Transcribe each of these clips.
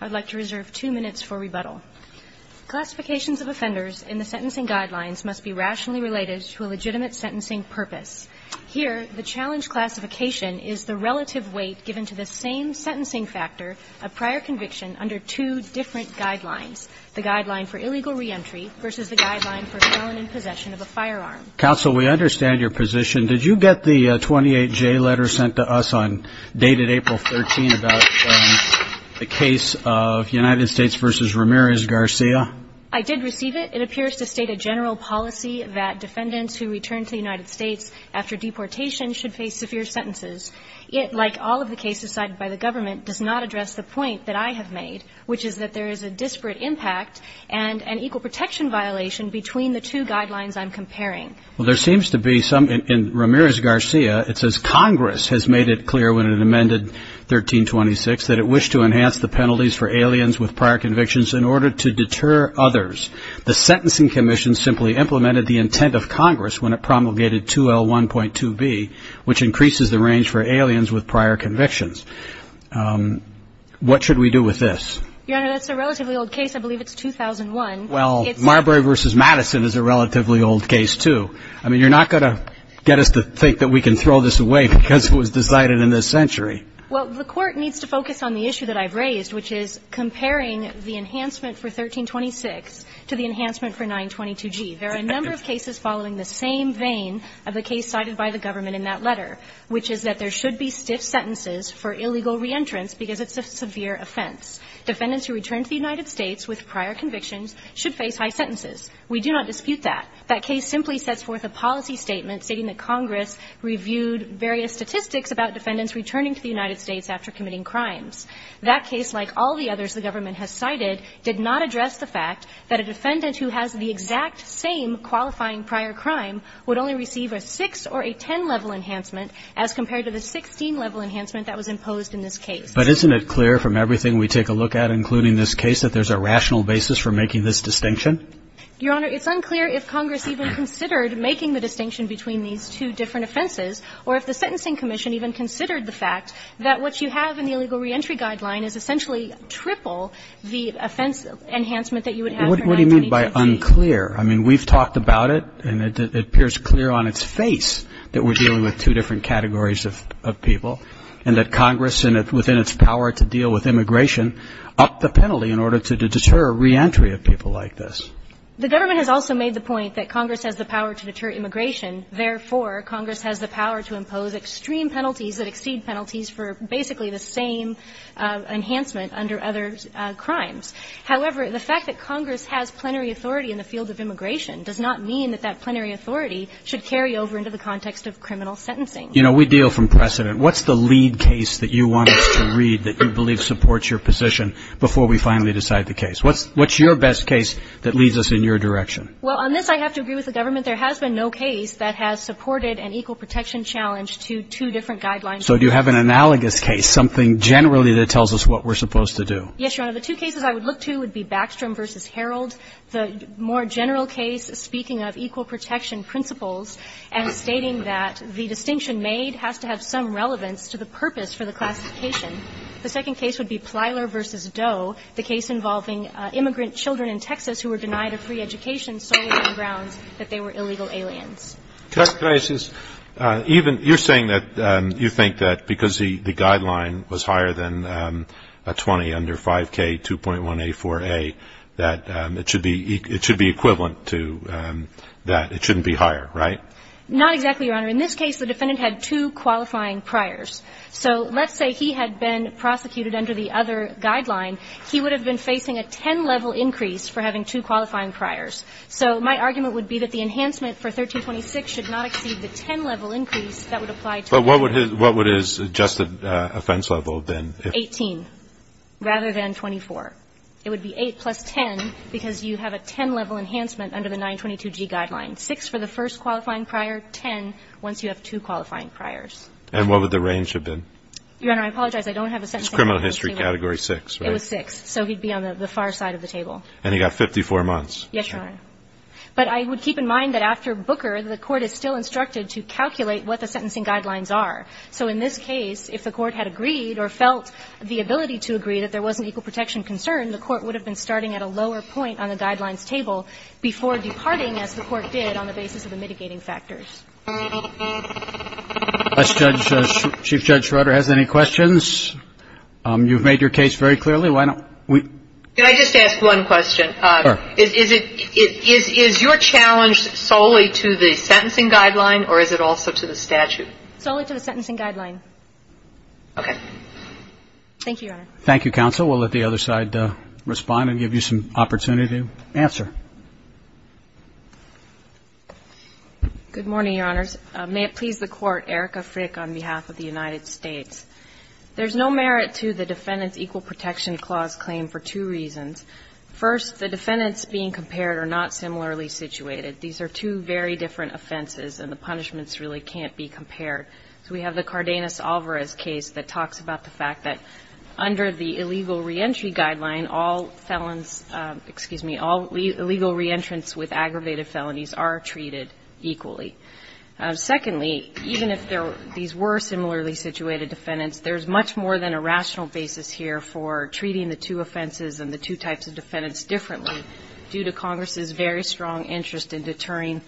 I'd like to reserve two minutes for rebuttal. Classifications of offenders in the sentencing guidelines must be rationally related to a legitimate sentencing purpose. Here, the challenge classification is the relative weight given to the same sentencing factor of prior conviction under two different guidelines, the guideline for illegal reentry versus the guideline for felon in possession of a firearm. Counsel, we understand your position. Did you get the 28J letter sent to us on dated April 13 about the case of United States v. Ramirez-Garcia? I did receive it. It appears to state a general policy that defendants who return to the United States after deportation should face severe sentences. It, like all of the cases cited by the government, does not address the point that I have made, which is that there is a disparate impact and an equal protection violation between the two guidelines I'm comparing. Well, there seems to be some, in Ramirez-Garcia, it says Congress has made it clear when it amended 1326 that it wished to enhance the penalties for aliens with prior convictions in order to deter others. The Sentencing Commission simply implemented the intent of Congress when it promulgated 2L1.2B, which increases the range for aliens with prior convictions. What should we do with this? Your Honor, that's a relatively old case. I believe it's 2001. Well, Marbury v. Madison is a relatively old case, too. I mean, you're not going to get us to think that we can throw this away because it was decided in this century. Well, the Court needs to focus on the issue that I've raised, which is comparing the enhancement for 1326 to the enhancement for 922G. There are a number of cases following the same vein of the case cited by the government in that letter, which is that there should be stiff sentences for illegal reentrance because it's a severe offense. Defendants who return to the United States with prior convictions should face high sentences. We do not dispute that. That case simply sets forth a policy statement stating that Congress reviewed various statistics about defendants returning to the United States after committing crimes. That case, like all the others the government has cited, did not address the fact that a defendant who has the exact same qualifying prior crime would only receive a 6 or a 10-level enhancement as compared to the 16-level enhancement that was imposed in this case. But isn't it clear from everything we take a look at, including this case, that there's a rational basis for making this distinction? Your Honor, it's unclear if Congress even considered making the distinction between these two different offenses or if the Sentencing Commission even considered the fact that what you have in the illegal reentry guideline is essentially triple the offense enhancement that you would have for 922G. What do you mean by unclear? I mean, we've talked about it, and it appears clear on its face that we're dealing with two different categories of people and that Congress, within its power to deal with immigration, upped the penalty in order to deter reentry of people like this. The government has also made the point that Congress has the power to deter immigration. Therefore, Congress has the power to impose extreme penalties that exceed penalties for basically the same enhancement under other crimes. However, the fact that Congress has plenary authority in the field of immigration does not mean that that plenary authority should carry over into the context of criminal sentencing. You know, we deal from precedent. What's the lead case that you want us to read that you believe supports your position before we finally decide the case? What's your best case that leads us in your direction? Well, on this, I have to agree with the government. There has been no case that has supported an equal protection challenge to two different guidelines. So do you have an analogous case, something generally that tells us what we're supposed to do? Yes, Your Honor. The two cases I would look to would be Backstrom v. Herald, the more general case speaking of equal protection principles and stating that the distinction made has to have some relevance to the purpose for the classification. The second case would be Plyler v. Doe, the case involving immigrant children in Texas who were denied a free education solely on grounds that they were illegal aliens. Justice Gracias, even you're saying that you think that because the guideline was higher than a 20 under 5K, 2.1A4A, that it should be equivalent to that it shouldn't be higher, right? Not exactly, Your Honor. In this case, the defendant had two qualifying priors. So let's say he had been prosecuted under the other guideline. He would have been facing a 10-level increase for having two qualifying priors. So my argument would be that the enhancement for 1326 should not exceed the 10-level increase that would apply to him. But what would his adjusted offense level have been? 18, rather than 24. It would be 8 plus 10 because you have a 10-level enhancement under the 922G guideline. Six for the first qualifying prior, 10 once you have two qualifying priors. And what would the range have been? Your Honor, I apologize. I don't have a sentencing guideline. It's criminal history category 6, right? It was 6. So he'd be on the far side of the table. And he got 54 months. Yes, Your Honor. But I would keep in mind that after Booker, the Court is still instructed to calculate what the sentencing guidelines are. So in this case, if the Court had agreed or felt the ability to agree that there wasn't equal protection concern, the Court would have been starting at a lower point on the basis of the mitigating factors. Chief Judge Schroeder has any questions? You've made your case very clearly. Why don't we? Can I just ask one question? Sure. Is your challenge solely to the sentencing guideline or is it also to the statute? Solely to the sentencing guideline. Okay. Thank you, Your Honor. Thank you, counsel. We'll let the other side respond and give you some opportunity to answer. Good morning, Your Honors. May it please the Court. Erica Frick on behalf of the United States. There's no merit to the Defendant's Equal Protection Clause claim for two reasons. First, the defendants being compared are not similarly situated. These are two very different offenses and the punishments really can't be compared. So we have the Cardenas-Alvarez case that talks about the fact that under the illegal reentrance with aggravated felonies are treated equally. Secondly, even if these were similarly situated defendants, there's much more than a rational basis here for treating the two offenses and the two types of defendants differently due to Congress's very strong interest in deterring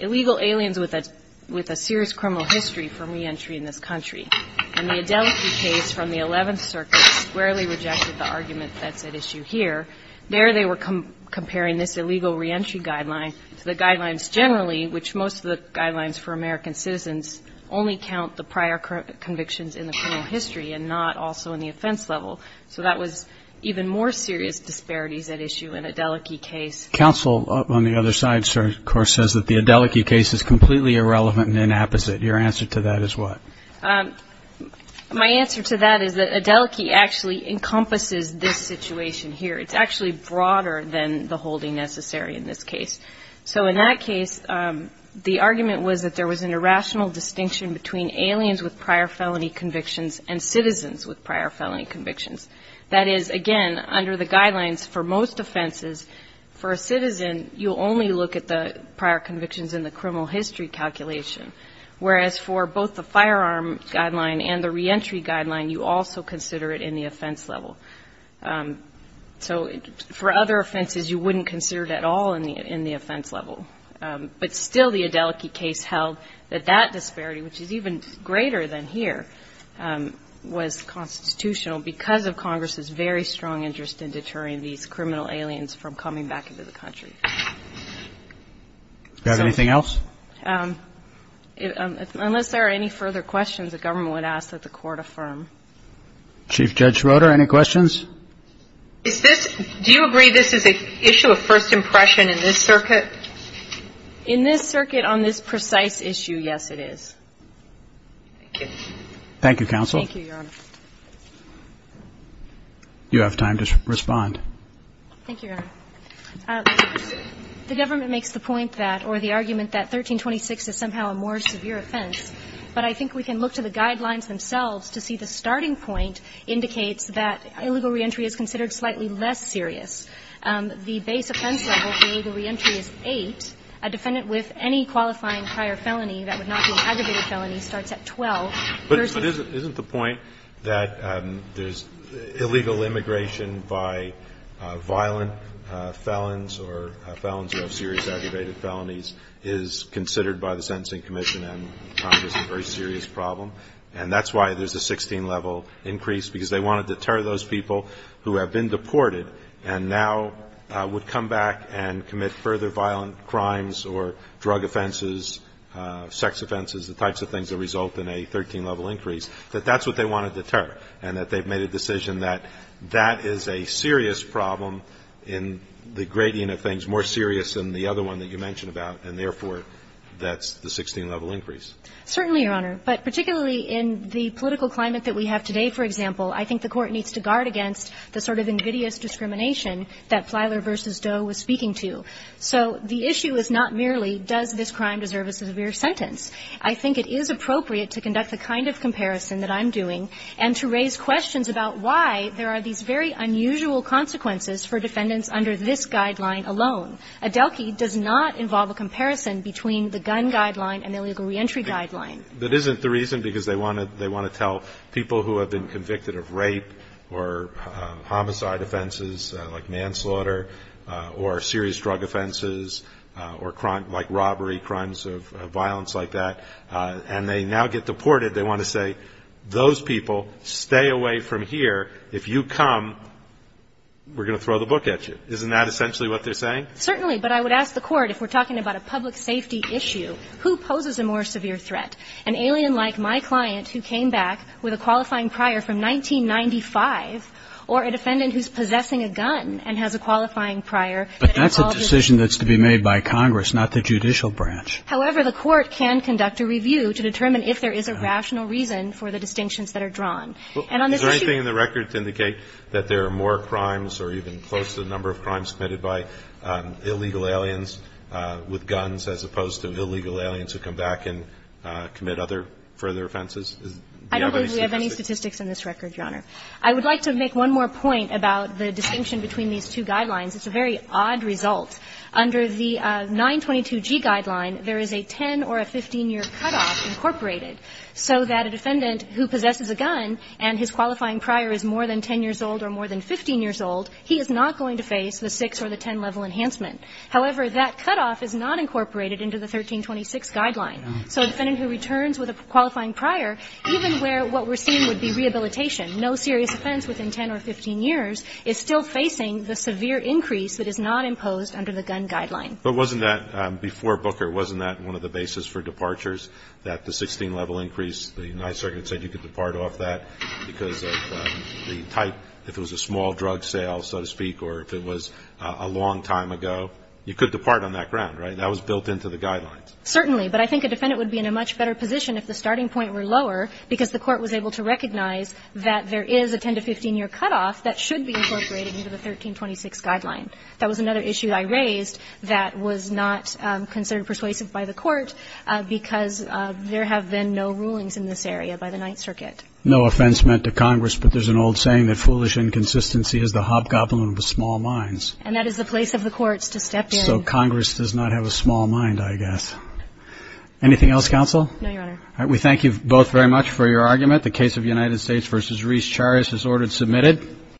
illegal aliens with a serious criminal history from reentry in this country. And the Adelphi case from the Eleventh Circuit squarely rejected the argument that's at issue here. There they were comparing this illegal reentry guideline to the guidelines generally, which most of the guidelines for American citizens only count the prior convictions in the criminal history and not also in the offense level. So that was even more serious disparities at issue in Adelphi case. Counsel on the other side, sir, of course, says that the Adelphi case is completely irrelevant and inapposite. Your answer to that is what? My answer to that is that Adelphi actually encompasses this situation here. It's actually broader than the holding necessary in this case. So in that case, the argument was that there was an irrational distinction between aliens with prior felony convictions and citizens with prior felony convictions. That is, again, under the guidelines for most offenses, for a citizen, you'll only look at the prior convictions in the criminal history calculation, whereas for both the firearm guideline and the reentry guideline, you also consider it in the offense level. So for other offenses, you wouldn't consider it at all in the offense level. But still the Adelphi case held that that disparity, which is even greater than here, was constitutional because of Congress's very strong interest in deterring these criminal aliens from coming back into the country. Do you have anything else? Unless there are any further questions, the government would ask that the Court affirm. Chief Judge Roder, any questions? Is this do you agree this is an issue of first impression in this circuit? In this circuit on this precise issue, yes, it is. Thank you. Thank you, counsel. Thank you, Your Honor. You have time to respond. Thank you, Your Honor. The government makes the point that or the argument that 1326 is somehow a more severe offense, but I think we can look to the guidelines themselves to see the starting point indicates that illegal reentry is considered slightly less serious. The base offense level for illegal reentry is 8. A defendant with any qualifying prior felony that would not be an aggravated felony starts at 12 versus. But isn't the point that there's illegal immigration by violent felons or felons of serious aggravated felonies is considered by the Sentencing Commission and is a very serious problem and that's why there's a 16 level increase because they want to deter those people who have been deported and now would come back and commit further violent crimes or drug offenses, sex offenses, the types of things that result in a 13 level increase that that's what they want to deter and that they've made a decision that that is a serious problem in the gradient of things more serious than the other one that you mentioned about and therefore that's the 16 level increase. Certainly, Your Honor. But particularly in the political climate that we have today, for example, I think the Court needs to guard against the sort of invidious discrimination that Flyler v. Doe was speaking to. So the issue is not merely does this crime deserve a severe sentence. I think it is appropriate to conduct the kind of comparison that I'm doing and to raise questions about why there are these very unusual consequences for defendants under this guideline alone. A DELQI does not involve a comparison between the gun guideline and the illegal reentry guideline. That isn't the reason because they want to tell people who have been convicted of rape or homicide offenses like manslaughter or serious drug offenses or crime like robbery, crimes of violence like that, and they now get deported, they want to say those people stay away from here. If you come, we're going to throw the book at you. Isn't that essentially what they're saying? Certainly, but I would ask the Court if we're talking about a public safety issue, who poses a more severe threat? An alien like my client who came back with a qualifying prior from 1995 or a defendant who's possessing a gun and has a qualifying prior? But that's a decision that's to be made by Congress, not the judicial branch. However, the Court can conduct a review to determine if there is a rational reason for the distinctions that are drawn. And on this issue ---- Is there anything in the record to indicate that there are more crimes or even close to the number of crimes committed by illegal aliens with guns as opposed to illegal aliens who come back and commit other, further offenses? Do you have any statistics? I don't believe we have any statistics in this record, Your Honor. I would like to make one more point about the distinction between these two guidelines. It's a very odd result. Under the 922G guideline, there is a 10 or a 15-year cutoff incorporated so that a defendant who possesses a gun and his qualifying prior is more than 10 years old or more than 15 years old, he is not going to face the 6 or the 10-level enhancement. However, that cutoff is not incorporated into the 1326 guideline. So a defendant who returns with a qualifying prior, even where what we're seeing would be rehabilitation, no serious offense within 10 or 15 years, is still facing the severe increase that is not imposed under the gun guideline. But wasn't that, before Booker, wasn't that one of the basis for departures that the 16-level increase, the United States said you could depart off that because of the type, if it was a small drug sale, so to speak, or if it was a long time ago, you could depart on that ground, right? That was built into the guidelines. Certainly. But I think a defendant would be in a much better position if the starting point were lower because the Court was able to recognize that there is a 10 to 15-year cutoff that should be incorporated into the 1326 guideline. That was another issue I raised that was not considered persuasive by the Court because there have been no rulings in this area by the Ninth Circuit. No offense meant to Congress, but there's an old saying that foolish inconsistency is the hobgoblin of the small minds. And that is the place of the courts to step in. So Congress does not have a small mind, I guess. Anything else, Counsel? No, Your Honor. All right. We thank you both very much for your argument. The case of United States v. Reese Charas is ordered submitted.